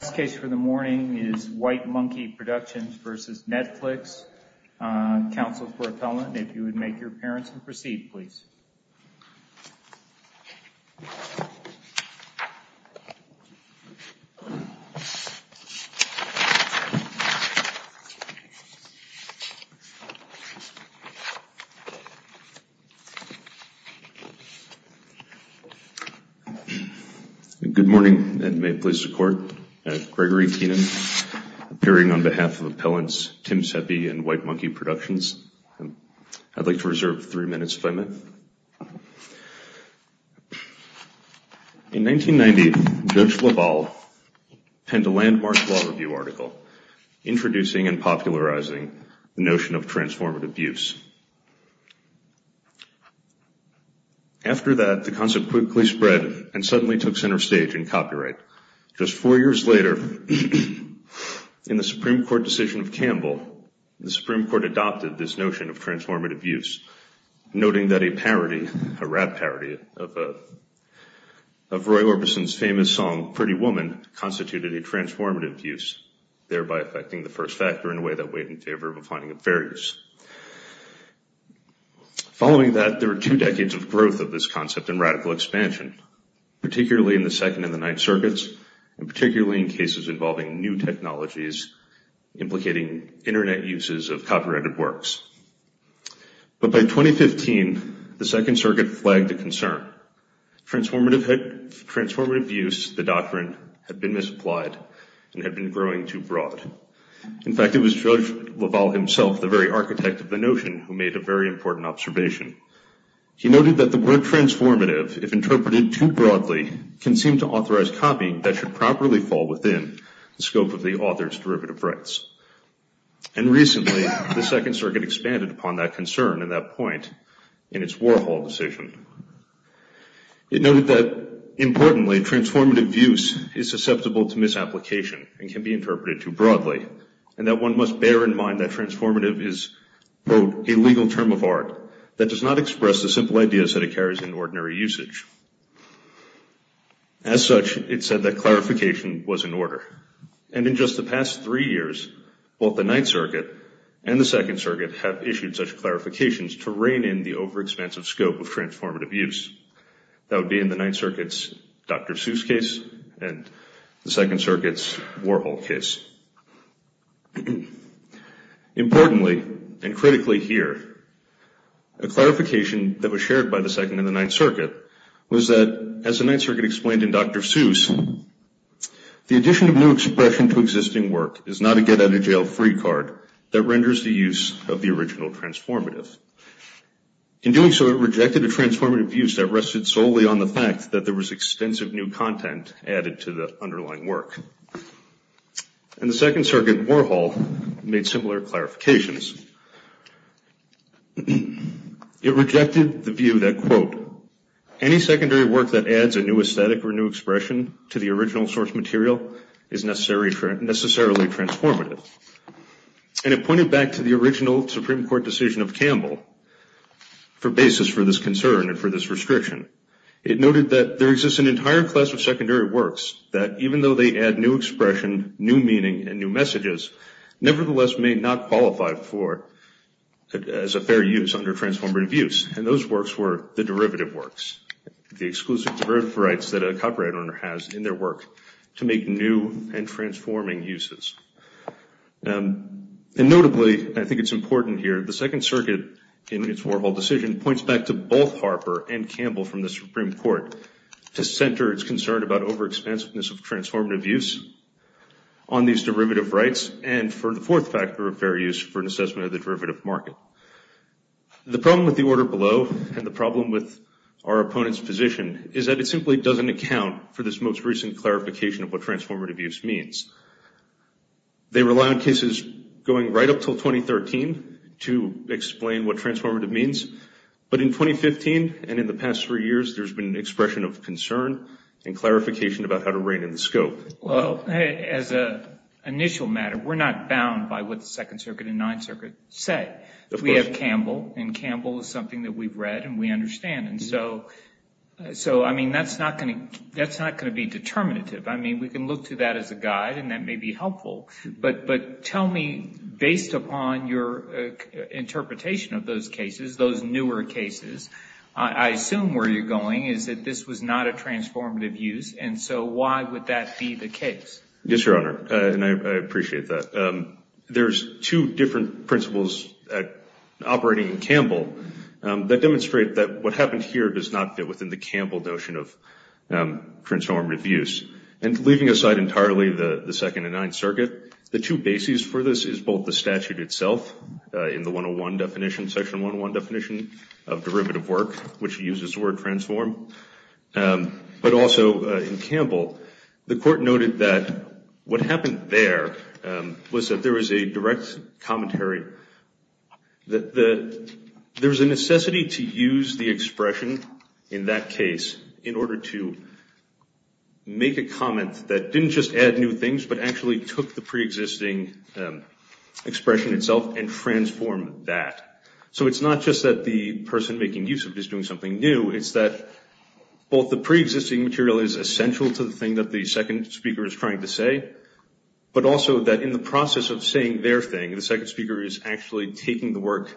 This case for the morning is Wite Monkee Productions v. Netflix, counsel for appellant. If you would make your appearance and proceed, please. Good morning, and may it please the court, Gregory Keenan, appearing on behalf of appellants Tim Seppi and Wite Monkee Productions. I'd like to reserve three minutes if I may. In 1990, Judge LaValle penned a landmark law review article introducing and popularizing the notion of transformative use. After that, the concept quickly spread and suddenly took center stage in copyright. Just four years later, in the Supreme Court decision of Campbell, the Supreme Court adopted this notion of transformative use, noting that a parody, a rap parody of Roy Orbison's famous song, Pretty Woman, constituted a transformative use, thereby affecting the first factor in a way that weighed in favor of a finding of fair use. Following that, there were two decades of growth of this concept and radical expansion, particularly in the Second and the Ninth Circuits, and particularly in cases involving new technologies, implicating Internet uses of copyrighted works. But by 2015, the Second Circuit flagged a concern. Transformative use, the doctrine, had been misapplied and had been growing too broad. In fact, it was Judge LaValle himself, the very architect of the notion, who made a very important observation. He noted that the word transformative, if interpreted too broadly, can seem to authorize copying that should properly fall within the scope of the author's derivative rights. And recently, the Second Circuit expanded upon that concern and that point in its Warhol decision. It noted that, importantly, transformative use is susceptible to misapplication and can be interpreted too broadly, and that one must bear in mind that transformative is, quote, a legal term of art that does not express the simple ideas that it carries in ordinary usage. As such, it said that clarification was in order. And in just the past three years, both the Ninth Circuit and the Second Circuit have issued such clarifications to rein in the overexpansive scope of transformative use. That would be in the Ninth Circuit's Dr. Seuss case and the Second Circuit's Warhol case. Importantly, and critically here, a clarification that was shared by the Second and the Ninth Circuit was that, as the Ninth Circuit explained in Dr. Seuss, the addition of new expression to existing work is not a get-out-of-jail-free card that renders the use of the original transformative. In doing so, it rejected a transformative use that rested solely on the fact that there was extensive new content added to the underlying work. And the Second Circuit Warhol made similar clarifications. It rejected the view that, quote, any secondary work that adds a new aesthetic or new expression to the original source material is necessarily transformative. And it pointed back to the original Supreme Court decision of Campbell for basis for this concern and for this restriction. It noted that there exists an entire class of secondary works that, even though they add new expression, new meaning, and new messages, nevertheless may not qualify as a fair use under transformative use. And those works were the derivative works, the exclusive derivative rights that a copyright owner has in their work to make new and transforming uses. And notably, I think it's important here, the Second Circuit in its Warhol decision points back to both Harper and Campbell from the Supreme Court to center its concern about overexpansiveness of transformative use on these derivative rights and for the fourth factor of fair use for an assessment of the derivative market. The problem with the order below and the problem with our opponent's position is that it simply doesn't account for this most recent clarification of what transformative use means. They rely on cases going right up until 2013 to explain what transformative means. But in 2015 and in the past three years, there's been an expression of concern and clarification about how to rein in the scope. Well, as an initial matter, we're not bound by what the Second Circuit and Ninth Circuit said. We have Campbell, and Campbell is something that we've read and we understand. And so, I mean, that's not going to be determinative. I mean, we can look to that as a guide, and that may be helpful. But tell me, based upon your interpretation of those cases, those newer cases, I assume where you're going is that this was not a transformative use, and so why would that be the case? Yes, Your Honor, and I appreciate that. There's two different principles operating in Campbell that demonstrate that what happened here does not fit within the Campbell notion of transformative use. And leaving aside entirely the Second and Ninth Circuit, the two bases for this is both the statute itself in the 101 definition, Section 101 definition of derivative work, which uses the word transform, but also in Campbell, the Court noted that what happened there was that there was a direct commentary. There's a necessity to use the expression in that case in order to make a comment that didn't just add new things, but actually took the preexisting expression itself and transformed that. So it's not just that the person making use of it is doing something new. It's that both the preexisting material is essential to the thing that the second speaker is trying to say, but also that in the process of saying their thing, the second speaker is actually taking the work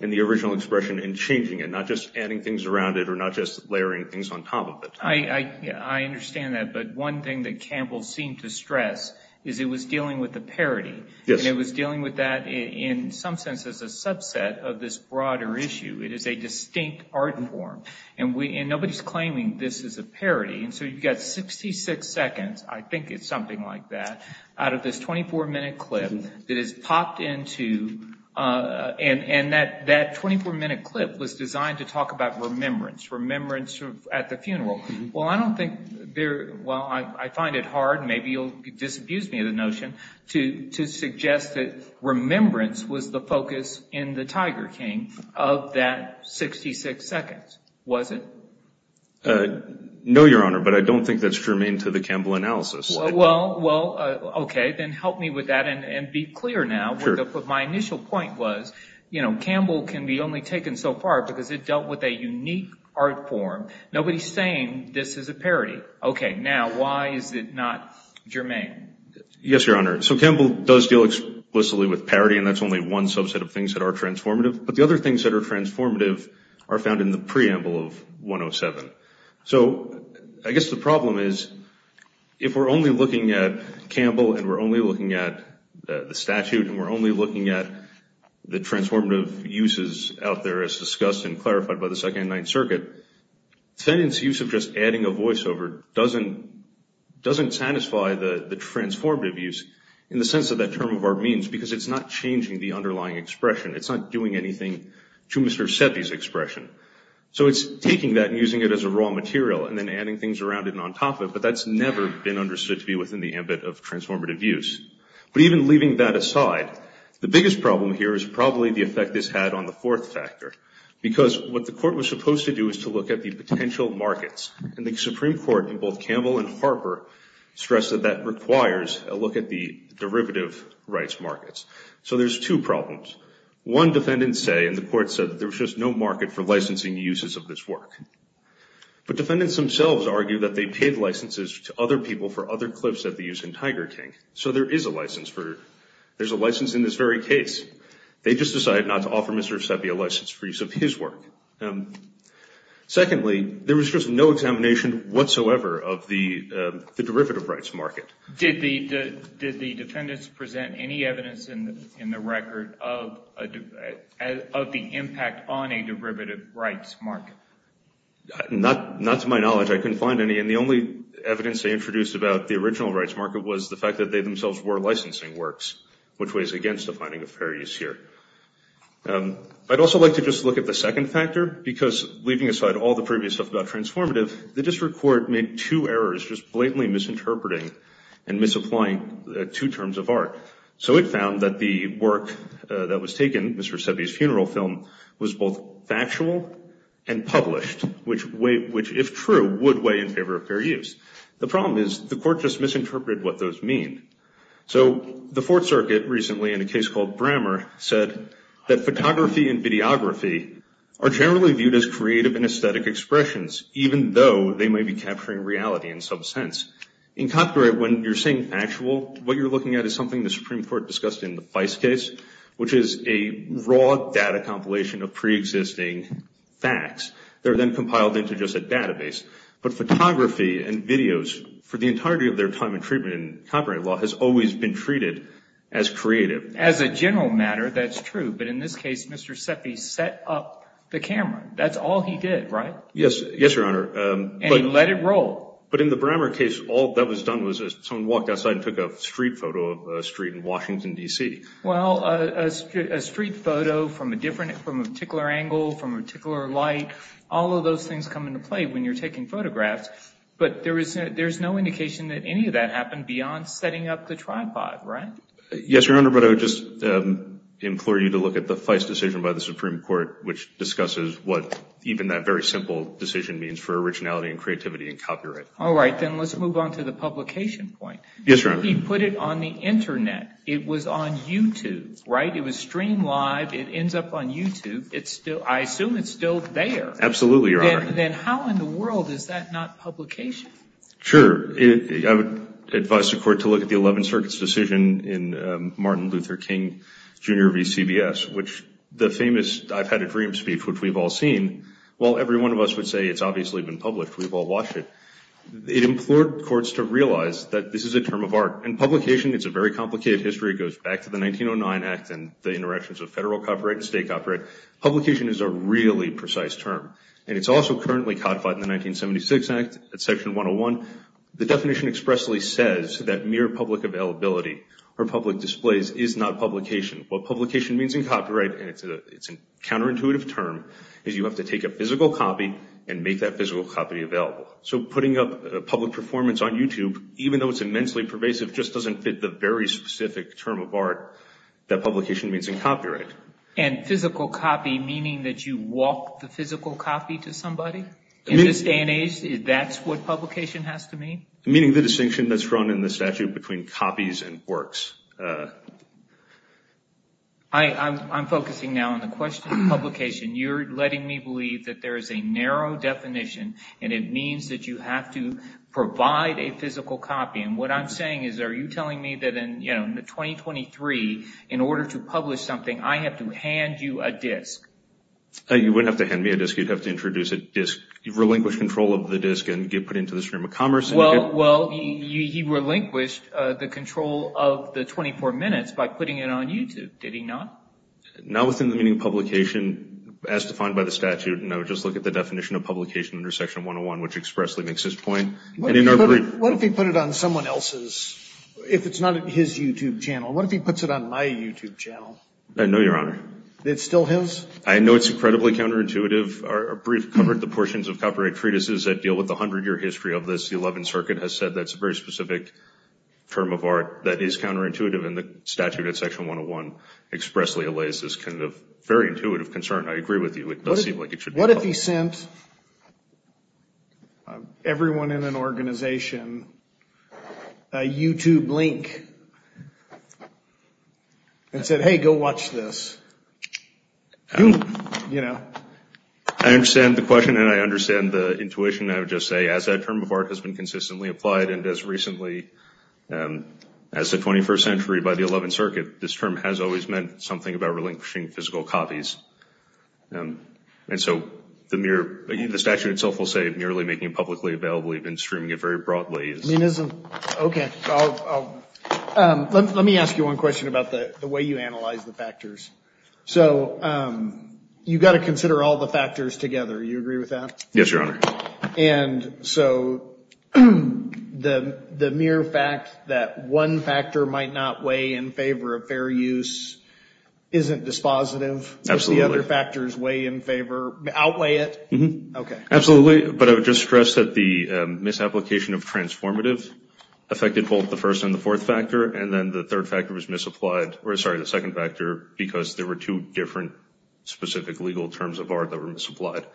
and the original expression and changing it, not just adding things around it or not just layering things on top of it. I understand that, but one thing that Campbell seemed to stress is it was dealing with the parody. Yes. And it was dealing with that in some sense as a subset of this broader issue. It is a distinct art form, and nobody's claiming this is a parody. And so you've got 66 seconds, I think it's something like that, out of this 24-minute clip that is popped into, and that 24-minute clip was designed to talk about remembrance, remembrance at the funeral. Well, I don't think there, well, I find it hard, maybe you'll disabuse me of the notion, to suggest that remembrance was the focus in the Tiger King of that 66 seconds, was it? No, Your Honor, but I don't think that's germane to the Campbell analysis. Well, okay, then help me with that and be clear now. My initial point was Campbell can be only taken so far because it dealt with a unique art form. Nobody's saying this is a parody. Okay, now why is it not germane? Yes, Your Honor, so Campbell does deal explicitly with parody, and that's only one subset of things that are transformative. But the other things that are transformative are found in the preamble of 107. So I guess the problem is if we're only looking at Campbell and we're only looking at the statute and we're only looking at the transformative uses out there as discussed and clarified by the Second Ninth Circuit, sentence use of just adding a voiceover doesn't satisfy the transformative use in the sense of that term of our means because it's not changing the underlying expression. It's not doing anything to Mr. Seppi's expression. So it's taking that and using it as a raw material and then adding things around it and on top of it, but that's never been understood to be within the ambit of transformative use. But even leaving that aside, the biggest problem here is probably the effect this had on the fourth factor because what the court was supposed to do is to look at the potential markets, and the Supreme Court in both Campbell and Harper stressed that that requires a look at the derivative rights markets. So there's two problems. One, defendants say, and the court said, there's just no market for licensing uses of this work. But defendants themselves argue that they paid licenses to other people for other clips that they use in Tiger King, so there is a license for it. There's a license in this very case. They just decided not to offer Mr. Seppi a license for use of his work. Secondly, there was just no examination whatsoever of the derivative rights market. Did the defendants present any evidence in the record of the impact on a derivative rights market? Not to my knowledge. I couldn't find any, and the only evidence they introduced about the original rights market was the fact that they themselves were licensing works, which weighs against the finding of fair use here. I'd also like to just look at the second factor because leaving aside all the previous stuff about transformative, the district court made two errors just blatantly misinterpreting and misapplying two terms of art. So it found that the work that was taken, Mr. Seppi's funeral film, was both factual and published, which if true would weigh in favor of fair use. The problem is the court just misinterpreted what those mean. So the Fourth Circuit recently, in a case called Brammer, said that photography and videography are generally viewed as creative and aesthetic expressions, even though they may be capturing reality in some sense. In copyright, when you're saying factual, what you're looking at is something the Supreme Court discussed in the Feist case, which is a raw data compilation of preexisting facts. They're then compiled into just a database. But photography and videos, for the entirety of their time in treatment in copyright law, has always been treated as creative. As a general matter, that's true. But in this case, Mr. Seppi set up the camera. That's all he did, right? Yes, Your Honor. And he let it roll. But in the Brammer case, all that was done was someone walked outside and took a street photo of a street in Washington, D.C. Well, a street photo from a particular angle, from a particular light, all of those things come into play when you're taking photographs. But there's no indication that any of that happened beyond setting up the tripod, right? Yes, Your Honor. But I would just implore you to look at the Feist decision by the Supreme Court, which discusses what even that very simple decision means for originality and creativity in copyright. All right. Then let's move on to the publication point. Yes, Your Honor. He put it on the Internet. It was on YouTube, right? It was streamed live. It ends up on YouTube. I assume it's still there. Absolutely, Your Honor. Then how in the world is that not publication? Sure. I would advise the Court to look at the 11th Circuit's decision in Martin Luther King, Jr. v. CBS, which the famous I've had a dream speech, which we've all seen. While every one of us would say it's obviously been published, we've all watched it. It implored courts to realize that this is a term of art. In publication, it's a very complicated history. It goes back to the 1909 Act and the interactions of federal copyright and state copyright. Publication is a really precise term, and it's also currently codified in the 1976 Act, section 101. The definition expressly says that mere public availability or public displays is not publication. What publication means in copyright, and it's a counterintuitive term, is you have to take a physical copy and make that physical copy available. So putting up a public performance on YouTube, even though it's immensely pervasive, just doesn't fit the very specific term of art that publication means in copyright. And physical copy meaning that you walk the physical copy to somebody? In this day and age, that's what publication has to mean? Meaning the distinction that's drawn in the statute between copies and works. I'm focusing now on the question of publication. You're letting me believe that there is a narrow definition, and it means that you have to provide a physical copy. And what I'm saying is, are you telling me that in 2023, in order to publish something, I have to hand you a disc? You wouldn't have to hand me a disc. You'd have to introduce a disc. You've relinquished control of the disc and get put into the stream of commerce. Well, he relinquished the control of the 24 minutes by putting it on YouTube, did he not? Not within the meaning of publication as defined by the statute, no. Just look at the definition of publication under section 101, which expressly makes this point. What if he put it on someone else's, if it's not his YouTube channel? What if he puts it on my YouTube channel? No, Your Honor. It's still his? I know it's incredibly counterintuitive. Our brief covered the portions of copyright treatises that deal with the 100-year history of this. The 11th Circuit has said that's a very specific term of art that is counterintuitive, and the statute at section 101 expressly allays this kind of very intuitive concern. I agree with you. It does seem like it should be published. What if he sent everyone in an organization a YouTube link and said, hey, go watch this? I understand the question and I understand the intuition. I would just say as that term of art has been consistently applied and as recently as the 21st century by the 11th Circuit, this term has always meant something about relinquishing physical copies. And so the mere, again, the statute itself will say merely making it publicly available. We've been streaming it very broadly. Okay. Let me ask you one question about the way you analyze the factors. So you've got to consider all the factors together. You agree with that? Yes, Your Honor. And so the mere fact that one factor might not weigh in favor of fair use isn't dispositive? Absolutely. Does the other factors weigh in favor, outweigh it? Absolutely. But I would just stress that the misapplication of transformative affected both the first and the fourth factor, and then the third factor was misapplied, or sorry, the second factor, because there were two different specific legal terms of art that were misapplied.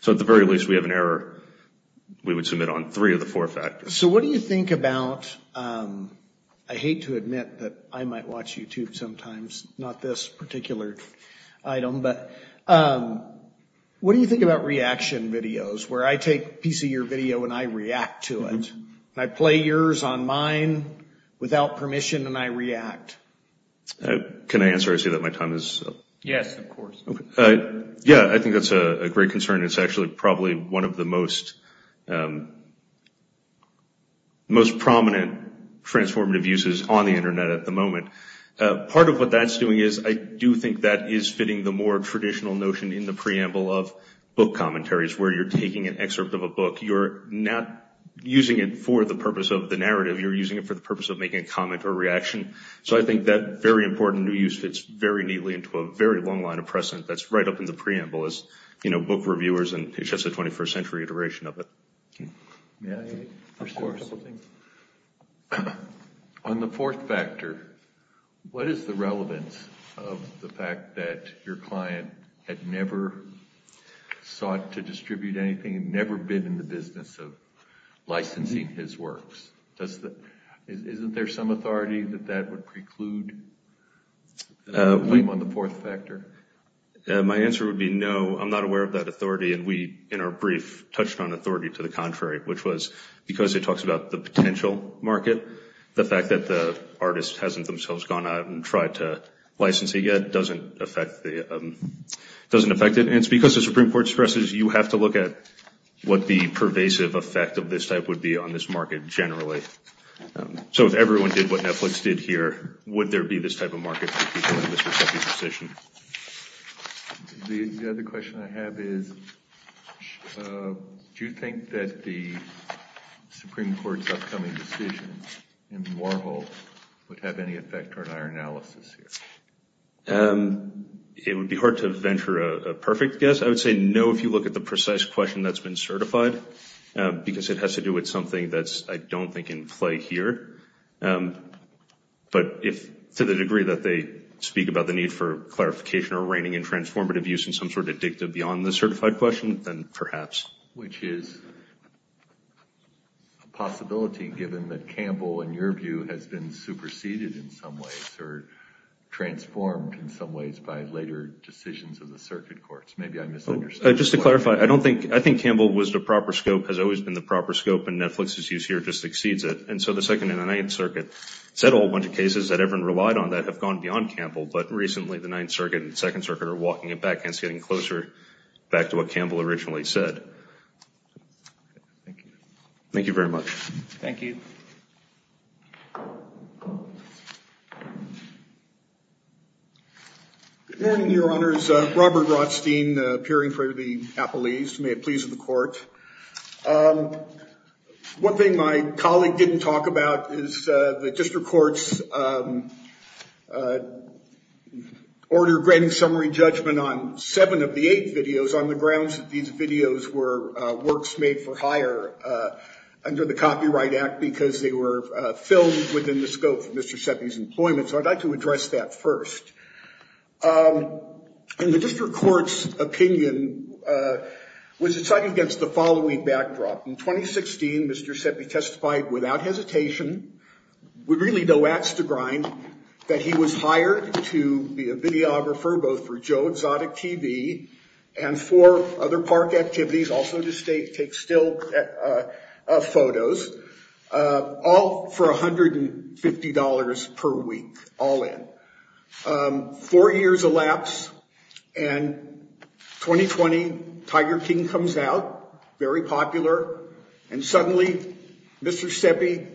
So at the very least, we have an error. We would submit on three of the four factors. So what do you think about, I hate to admit that I might watch YouTube sometimes, not this particular item, but what do you think about reaction videos where I take a piece of your video and I react to it, and I play yours on mine without permission and I react? Can I answer? I see that my time is up. Yes, of course. Yeah, I think that's a great concern. It's actually probably one of the most prominent transformative uses on the Internet at the moment. Part of what that's doing is I do think that is fitting the more traditional notion in the preamble of book commentaries, where you're taking an excerpt of a book. You're not using it for the purpose of the narrative. You're using it for the purpose of making a comment or reaction. So I think that very important new use fits very neatly into a very long line of precedent. That's right up in the preamble is book reviewers and it's just a 21st century iteration of it. May I? Of course. On the fourth factor, what is the relevance of the fact that your client had never sought to distribute anything, had never been in the business of licensing his works? Isn't there some authority that that would preclude a claim on the fourth factor? My answer would be no. I'm not aware of that authority. And we, in our brief, touched on authority to the contrary, which was because it talks about the potential market. The fact that the artist hasn't themselves gone out and tried to license it yet doesn't affect it. And it's because the Supreme Court stresses you have to look at what the pervasive effect of this type would be on this market generally. So if everyone did what Netflix did here, would there be this type of market for people in this receptive position? The other question I have is do you think that the Supreme Court's upcoming decision in Warhol would have any effect on our analysis here? It would be hard to venture a perfect guess. I would say no if you look at the precise question that's been certified, because it has to do with something that I don't think in play here. But to the degree that they speak about the need for clarification or reining in transformative use in some sort of dictum beyond the certified question, then perhaps. Which is a possibility given that Campbell, in your view, has been superseded in some ways or transformed in some ways by later decisions of the circuit courts. Maybe I misunderstood. Just to clarify, I think Campbell was the proper scope, has always been the proper scope, and Netflix's use here just exceeds it. And so the Second and the Ninth Circuit said a whole bunch of cases that everyone relied on that have gone beyond Campbell. But recently, the Ninth Circuit and the Second Circuit are walking it back and it's getting closer back to what Campbell originally said. Thank you. Thank you very much. Thank you. Good morning, Your Honors. Robert Rothstein, appearing in front of the appellees. May it please the Court. One thing my colleague didn't talk about is the district court's order granting summary judgment on seven of the eight videos on the grounds that these videos were works made for hire under the Copyright Act because they were filmed within the scope of Mr. Seppi's employment. So I'd like to address that first. And the district court's opinion was decided against the following backdrop. In 2016, Mr. Seppi testified without hesitation, with really no ax to grind, that he was hired to be a videographer both for Joe Exotic TV and for other park activities, also to take still photos, all for $150 per week, all in. Four years elapse and 2020, Tiger King comes out, very popular. And suddenly, Mr. Seppi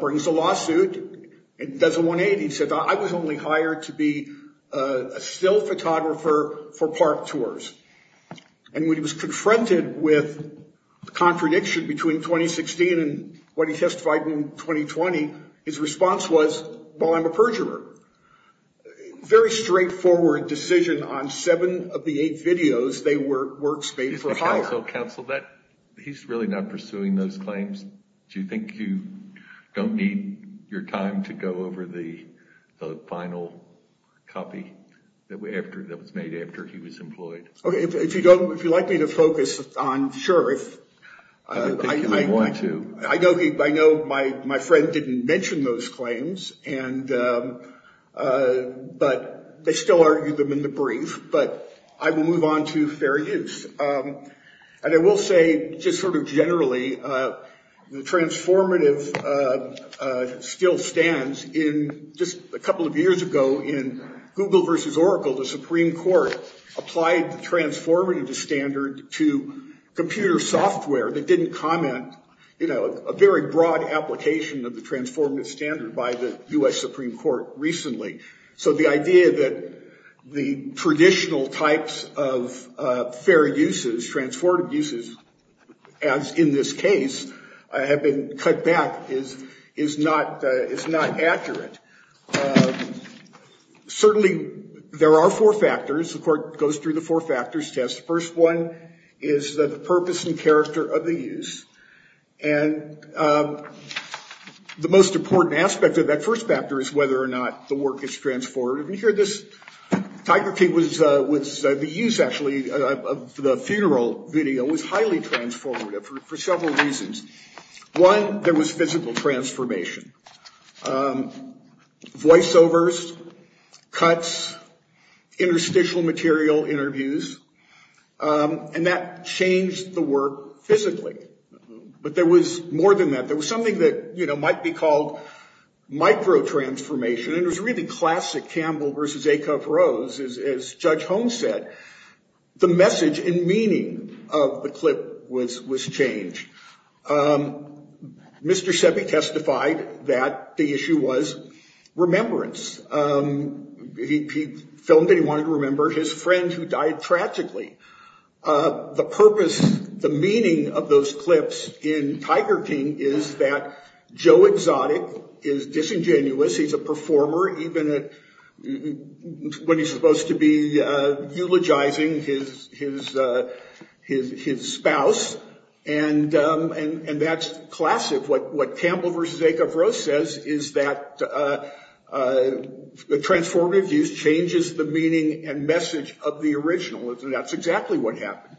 brings a lawsuit and does a 180. He said, I was only hired to be a still photographer for park tours. And when he was confronted with the contradiction between 2016 and what he testified in 2020, his response was, well, I'm a perjurer. Very straightforward decision on seven of the eight videos, they were works made for hire. So counsel, he's really not pursuing those claims. Do you think you don't need your time to go over the final copy that was made after he was employed? If you don't, if you'd like me to focus on, sure. I think you may want to. I know my friend didn't mention those claims, but they still argued them in the brief. But I will move on to fair use. And I will say just sort of generally, the transformative still stands. In just a couple of years ago, in Google versus Oracle, the Supreme Court applied transformative standard to computer software that didn't comment, you know, a very broad application of the transformative standard by the U.S. Supreme Court recently. So the idea that the traditional types of fair uses, transformative uses, as in this case, have been cut back is not accurate. Certainly, there are four factors. The court goes through the four factors test. The first one is the purpose and character of the use. And the most important aspect of that first factor is whether or not the work is transformative. And here this, Tiger King was, the use actually of the funeral video was highly transformative for several reasons. One, there was physical transformation. Voice overs, cuts, interstitial material interviews. And that changed the work physically. But there was more than that. There was something that, you know, might be called microtransformation. And it was really classic Campbell versus Acuff-Rose, as Judge Holmes said. The message and meaning of the clip was changed. Mr. Sebi testified that the issue was remembrance. He filmed and he wanted to remember his friend who died tragically. The purpose, the meaning of those clips in Tiger King is that Joe Exotic is disingenuous. He's a performer, even when he's supposed to be eulogizing his spouse. And that's classic. What Campbell versus Acuff-Rose says is that transformative use changes the meaning and message of the original. And that's exactly what happened.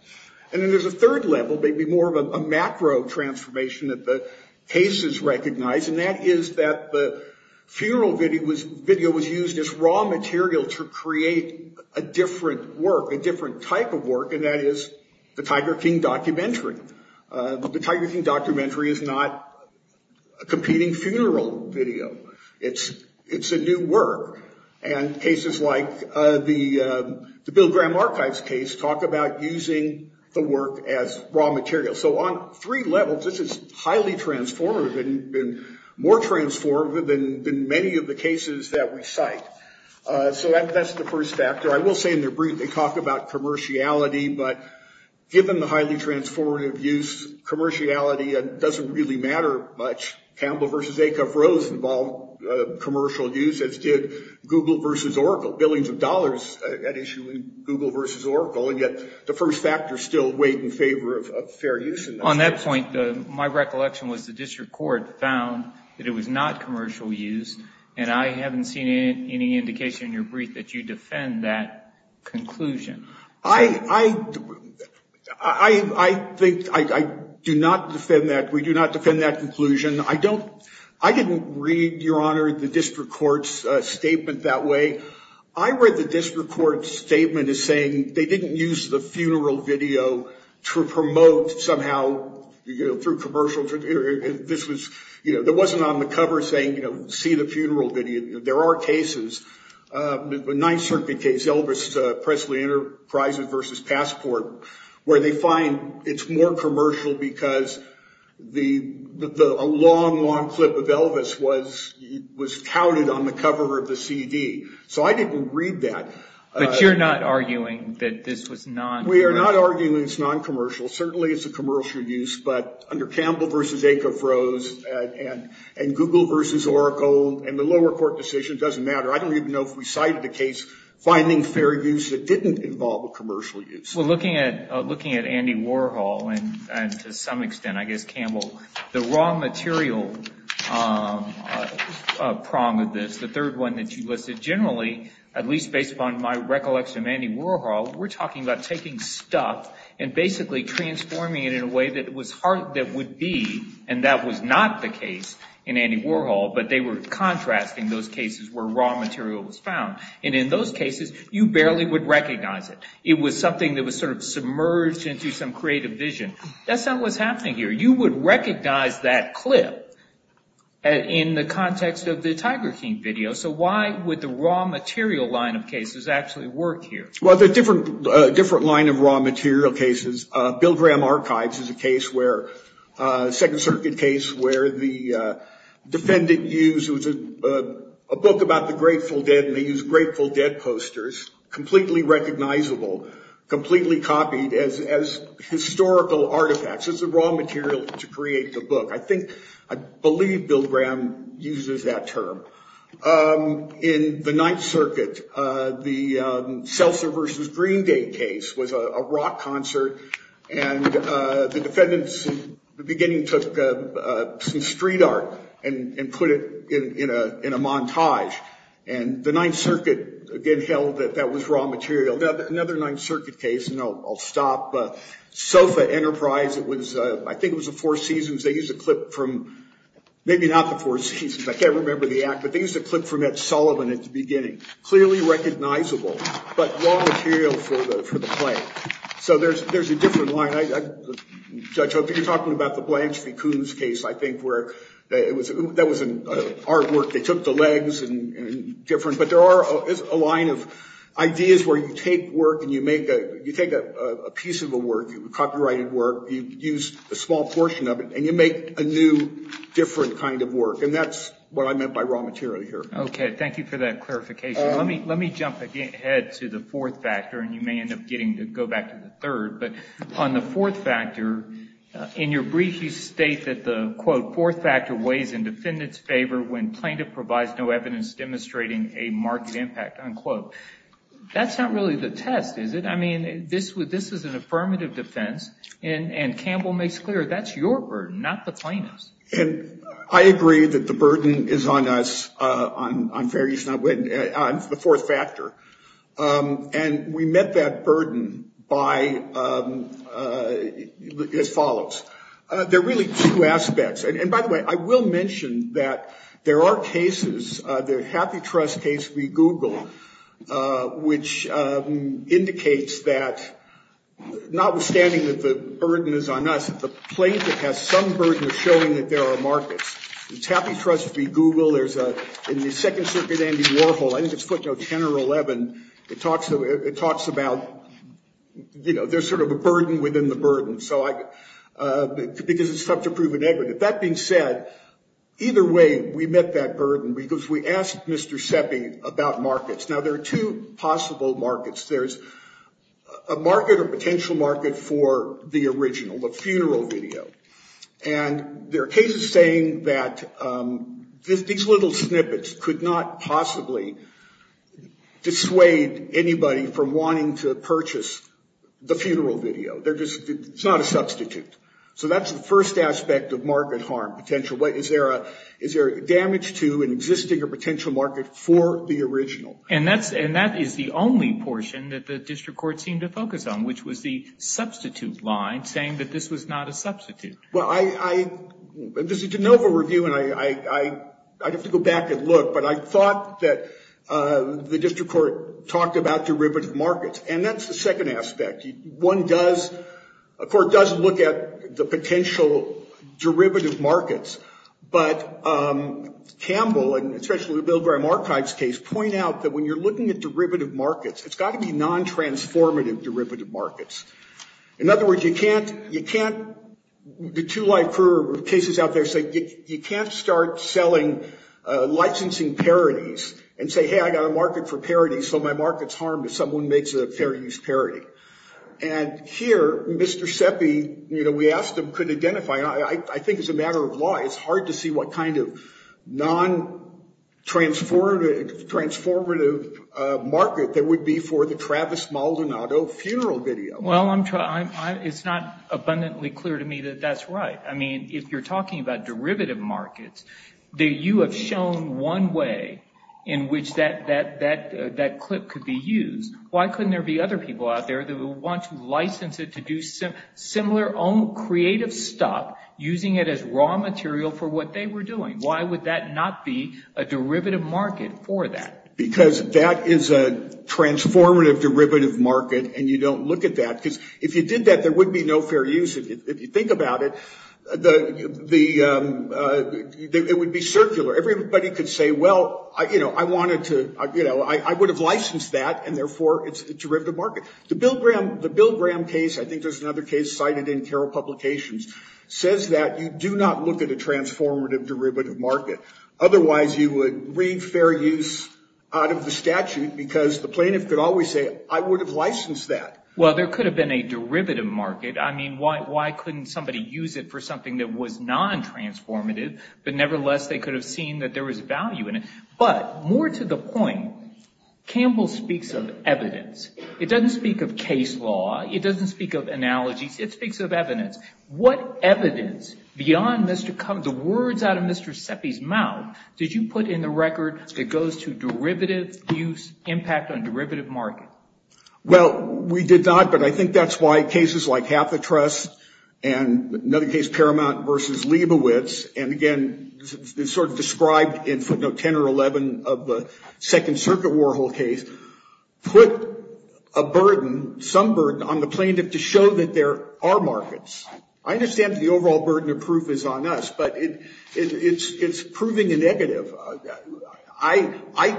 And then there's a third level, maybe more of a macro transformation that the cases recognize. And that is that the funeral video was used as raw material to create a different work, a different type of work. And that is the Tiger King documentary. The Tiger King documentary is not a competing funeral video. It's a new work. And cases like the Bill Graham Archives case talk about using the work as raw material. So on three levels, this is highly transformative and more transformative than many of the cases that we cite. So that's the first factor. I will say in their brief they talk about commerciality, but given the highly transformative use, commerciality doesn't really matter much. Campbell versus Acuff-Rose involved commercial use, as did Google versus Oracle. Billions of dollars at issue in Google versus Oracle, and yet the first factor still weighed in favor of fair use. On that point, my recollection was the district court found that it was not commercial use, and I haven't seen any indication in your brief that you defend that conclusion. I think I do not defend that. We do not defend that conclusion. I didn't read, Your Honor, the district court's statement that way. I read the district court's statement as saying they didn't use the funeral video to promote somehow through commercial. There wasn't on the cover saying, you know, see the funeral video. There are cases, the Ninth Circuit case, Elvis Presley Enterprises versus Passport, where they find it's more commercial because a long, long clip of Elvis was touted on the cover of the CD. So I didn't read that. But you're not arguing that this was non-commercial? We are not arguing it's non-commercial. Certainly it's a commercial use, but under Campbell versus Acofros and Google versus Oracle and the lower court decision, it doesn't matter. I don't even know if we cited the case finding fair use that didn't involve a commercial use. Well, looking at Andy Warhol and to some extent, I guess Campbell, the raw material prong of this, the third one that you listed, generally, at least based upon my recollection of Andy Warhol, we're talking about taking stuff and basically transforming it in a way that would be, and that was not the case in Andy Warhol, but they were contrasting those cases where raw material was found. And in those cases, you barely would recognize it. It was something that was sort of submerged into some creative vision. That's not what's happening here. You would recognize that clip in the context of the Tiger King video. So why would the raw material line of cases actually work here? Well, there's a different line of raw material cases. Bill Graham Archives is a case where, a Second Circuit case, where the defendant used a book about the Grateful Dead and they used Grateful Dead posters, completely recognizable, completely copied as historical artifacts. It's the raw material to create the book. I think, I believe Bill Graham uses that term. In the Ninth Circuit, the Seltzer versus Green Day case was a rock concert, and the defendants in the beginning took some street art and put it in a montage. And the Ninth Circuit, again, held that that was raw material. Another Ninth Circuit case, and I'll stop, SOFA Enterprise, I think it was the Four Seasons, they used a clip from, maybe not the Four Seasons, I can't remember the act, but they used a clip from Ed Sullivan at the beginning. Clearly recognizable, but raw material for the play. So there's a different line. Judge, I think you're talking about the Blanche v. Coons case, I think, where that was artwork, they took the legs and different, but there are a line of ideas where you take work and you make a, you take a piece of a work, copyrighted work, you use a small portion of it and you make a new, different kind of work. And that's what I meant by raw material here. Okay, thank you for that clarification. Let me jump ahead to the fourth factor, and you may end up getting to go back to the third. But on the fourth factor, in your brief you state that the, quote, fourth factor weighs in defendants' favor when plaintiff provides no evidence demonstrating a marked impact, unquote. That's not really the test, is it? I mean, this is an affirmative defense, and Campbell makes clear that's your burden, not the plaintiff's. And I agree that the burden is on us on various, on the fourth factor. And we met that burden by, as follows. There are really two aspects. And, by the way, I will mention that there are cases, the Happy Trust case we Googled, which indicates that notwithstanding that the burden is on us, the plaintiff has some burden of showing that there are markets. It's Happy Trust we Googled. There's a, in the Second Circuit Andy Warhol, I think it's footnote 10 or 11, it talks about, you know, there's sort of a burden within the burden. So I, because it's subject to proven equity. That being said, either way, we met that burden because we asked Mr. Seppi about markets. Now, there are two possible markets. There's a market or potential market for the original, the funeral video. And there are cases saying that these little snippets could not possibly dissuade anybody from wanting to purchase the funeral video. They're just, it's not a substitute. So that's the first aspect of market harm potential. Is there damage to an existing or potential market for the original? And that's, and that is the only portion that the district court seemed to focus on, which was the substitute line saying that this was not a substitute. Well, I, there's a de novo review, and I'd have to go back and look. But I thought that the district court talked about derivative markets. And that's the second aspect. One does, a court does look at the potential derivative markets. But Campbell, and especially the Bill Graham Archives case, point out that when you're looking at derivative markets, it's got to be non-transformative derivative markets. In other words, you can't, you can't, the two life cases out there say, you can't start selling licensing parodies and say, hey, I got a market for parodies, so my market's harmed if someone makes a fair use parody. And here, Mr. Seppi, you know, we asked him, could identify. I think as a matter of law, it's hard to see what kind of non-transformative market that would be for the Travis Maldonado funeral video. Well, I'm, it's not abundantly clear to me that that's right. I mean, if you're talking about derivative markets, that you have shown one way in which that clip could be used, why couldn't there be other people out there that would want to license it to do similar, own creative stuff, using it as raw material for what they were doing? Why would that not be a derivative market for that? Because that is a transformative derivative market, and you don't look at that. Because if you did that, there would be no fair use. If you think about it, the, it would be circular. Everybody could say, well, you know, I wanted to, you know, I would have licensed that, and therefore it's a derivative market. The Bill Graham case, I think there's another case cited in Carroll Publications, says that you do not look at a transformative derivative market. Otherwise, you would read fair use out of the statute, because the plaintiff could always say, I would have licensed that. Well, there could have been a derivative market. I mean, why couldn't somebody use it for something that was non-transformative, but nevertheless they could have seen that there was value in it? But more to the point, Campbell speaks of evidence. It doesn't speak of case law. It doesn't speak of analogies. It speaks of evidence. What evidence beyond the words out of Mr. Seppi's mouth did you put in the record that goes to derivative use, impact on derivative market? Well, we did not, but I think that's why cases like Half the Trust and another case, Paramount v. Leibovitz, and again it's sort of described in footnote 10 or 11 of the Second Circuit Warhol case, put a burden, some burden on the plaintiff to show that there are markets. I understand the overall burden of proof is on us, but it's proving a negative. I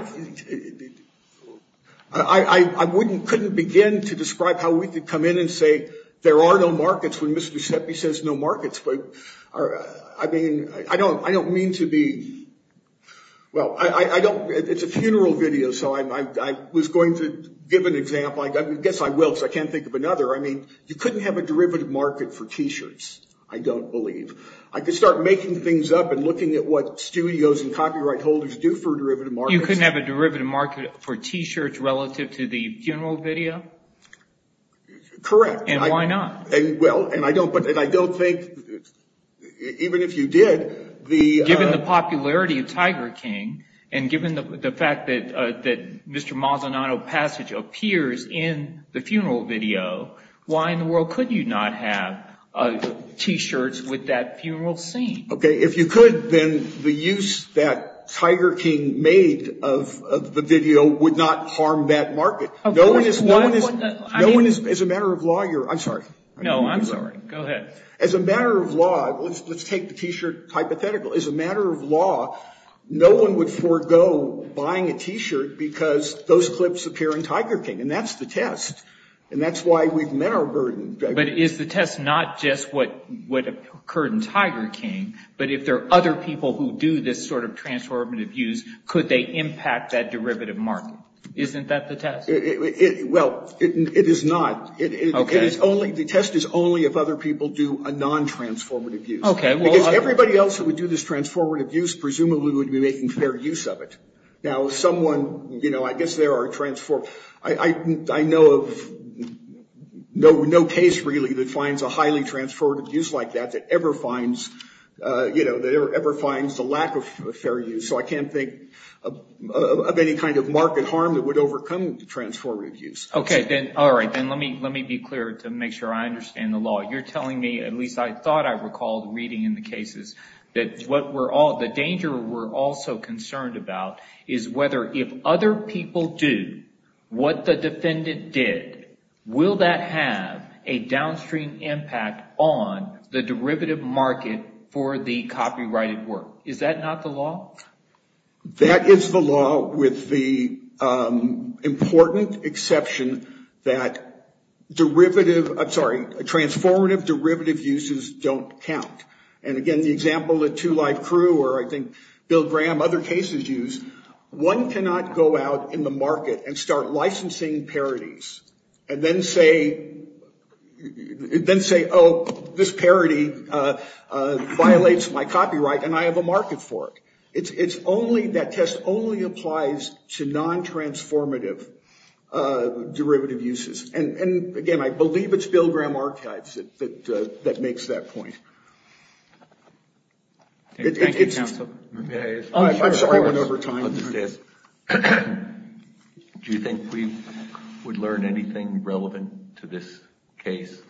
couldn't begin to describe how we could come in and say there are no markets when Mr. Seppi says no markets. I mean, I don't mean to be, well, it's a funeral video, so I was going to give an example. I guess I will because I can't think of another. I mean, you couldn't have a derivative market for T-shirts, I don't believe. I could start making things up and looking at what studios and copyright holders do for derivative markets. You couldn't have a derivative market for T-shirts relative to the funeral video? Correct. And why not? Well, and I don't think, even if you did. Given the popularity of Tiger King and given the fact that Mr. Mazzonato's passage appears in the funeral video, why in the world could you not have T-shirts with that funeral scene? Okay, if you could, then the use that Tiger King made of the video would not harm that market. Of course. No one is, as a matter of law, you're, I'm sorry. No, I'm sorry. Go ahead. As a matter of law, let's take the T-shirt hypothetical. As a matter of law, no one would forego buying a T-shirt because those clips appear in Tiger King, and that's the test. And that's why we've met our burden. But is the test not just what occurred in Tiger King, but if there are other people who do this sort of transformative use, could they impact that derivative market? Isn't that the test? Well, it is not. Okay. The test is only if other people do a non-transformative use. Okay. Because everybody else who would do this transformative use presumably would be making fair use of it. Now, someone, you know, I guess there are transformative. I know of no case really that finds a highly transformative use like that, that ever finds, you know, that ever finds the lack of fair use. So I can't think of any kind of market harm that would overcome the transformative use. Okay. All right. Then let me be clear to make sure I understand the law. You're telling me, at least I thought I recalled reading in the cases, that the danger we're also concerned about is whether if other people do what the defendant did, will that have a downstream impact on the derivative market for the copyrighted work? Is that not the law? That is the law with the important exception that derivative, I'm sorry, transformative derivative uses don't count. And, again, the example that Two Life Crew or I think Bill Graham, other cases use, one cannot go out in the market and start licensing parodies and then say, oh, this parody violates my copyright and I have a market for it. It's only, that test only applies to non-transformative derivative uses. And, again, I believe it's Bill Graham Archives that makes that point. Thank you, counsel. I'm sorry I went over time. Do you think we would learn anything relevant to this case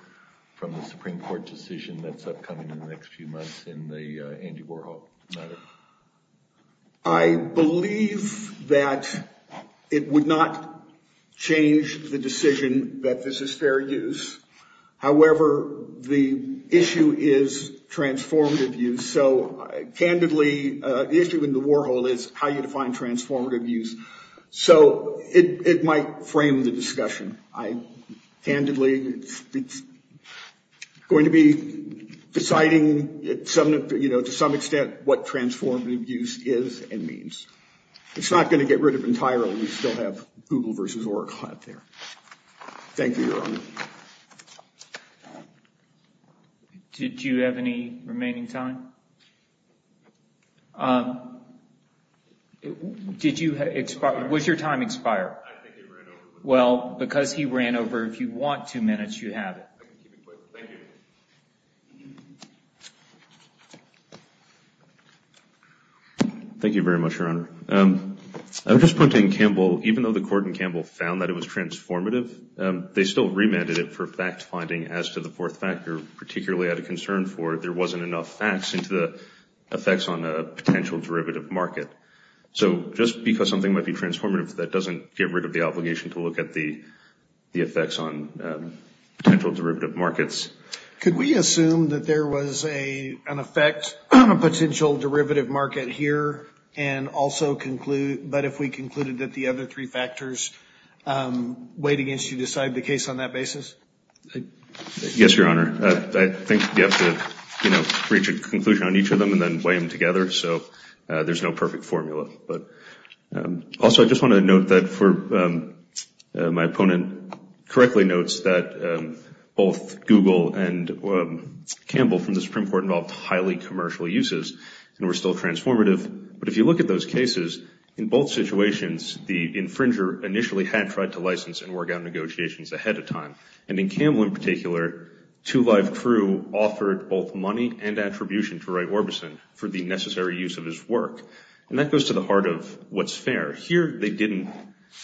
from the Supreme Court decision that's upcoming in the next few months in the Andy Warhol matter? I believe that it would not change the decision that this is fair use. However, the issue is transformative use. So, candidly, the issue in the Warhol is how you define transformative use. So it might frame the discussion. Candidly, it's going to be deciding to some extent what transformative use is and means. It's not going to get rid of entirely. We still have Google versus Oracle out there. Thank you, Your Honor. Did you have any remaining time? Did you expire? Was your time expired? I think it ran over. Well, because he ran over, if you want two minutes, you have it. Thank you. Thank you very much, Your Honor. I would just point to Campbell. Even though the court in Campbell found that it was transformative, they still remanded it for fact-finding as to the fourth factor, particularly out of concern for if there wasn't enough facts into the effects on a potential derivative market. So just because something might be transformative, that doesn't get rid of the obligation to look at the effects on potential derivative markets. Could we assume that there was an effect on a potential derivative market here, but if we concluded that the other three factors weighed against you, decide the case on that basis? Yes, Your Honor. I think you have to reach a conclusion on each of them and then weigh them together. So there's no perfect formula. Also, I just want to note that my opponent correctly notes that both Google and Campbell from the Supreme Court involved highly commercial uses and were still transformative. But if you look at those cases, in both situations, the infringer initially had tried to license and work out negotiations ahead of time. And in Campbell in particular, two live crew offered both money and attribution to Ray Orbison for the necessary use of his work. And that goes to the heart of what's fair. Here, they didn't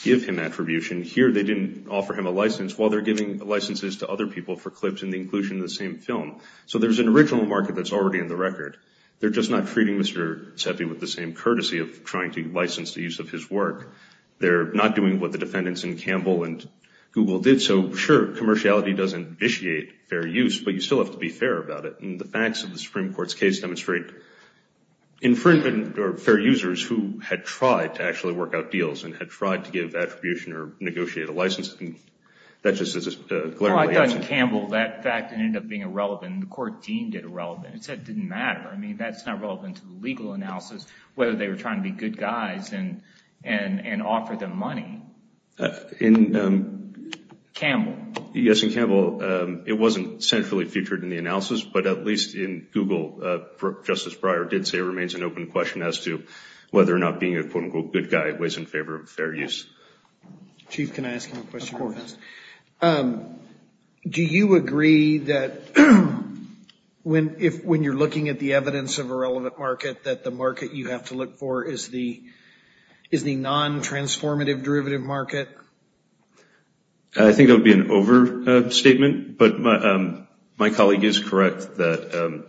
give him attribution. Here, they didn't offer him a license while they're giving licenses to other people for clips and the inclusion of the same film. So there's an original market that's already in the record. They're just not treating Mr. Seppi with the same courtesy of trying to license the use of his work. They're not doing what the defendants in Campbell and Google did. And so, sure, commerciality does initiate fair use, but you still have to be fair about it. And the facts of the Supreme Court's case demonstrate infringement or fair users who had tried to actually work out deals and had tried to give attribution or negotiate a license. And that just is a glaringly absent… Well, I thought in Campbell that fact ended up being irrelevant. The court deemed it irrelevant. It said it didn't matter. I mean, that's not relevant to the legal analysis, whether they were trying to be good guys and offer them money. In… Campbell. Yes, in Campbell, it wasn't centrally featured in the analysis, but at least in Google, Justice Breyer did say it remains an open question as to whether or not being a quote-unquote good guy weighs in favor of fair use. Chief, can I ask you a question real fast? Of course. Do you agree that when you're looking at the evidence of a relevant market, that the market you have to look for is the non-transformative derivative market? I think that would be an overstatement, but my colleague is correct that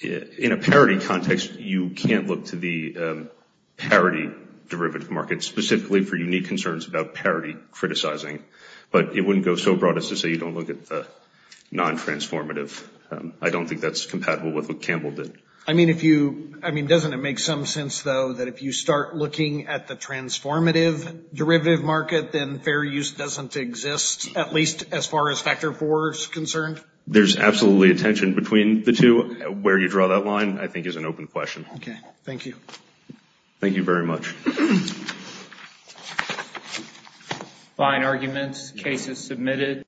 in a parity context, you can't look to the parity derivative market, specifically for unique concerns about parity criticizing. But it wouldn't go so broad as to say you don't look at the non-transformative. I don't think that's compatible with what Campbell did. I mean, if you… I mean, doesn't it make some sense, though, that if you start looking at the transformative derivative market, then fair use doesn't exist, at least as far as Factor IV is concerned? There's absolutely a tension between the two. Where you draw that line, I think, is an open question. Okay. Thank you. Thank you very much. Fine arguments. Case is submitted.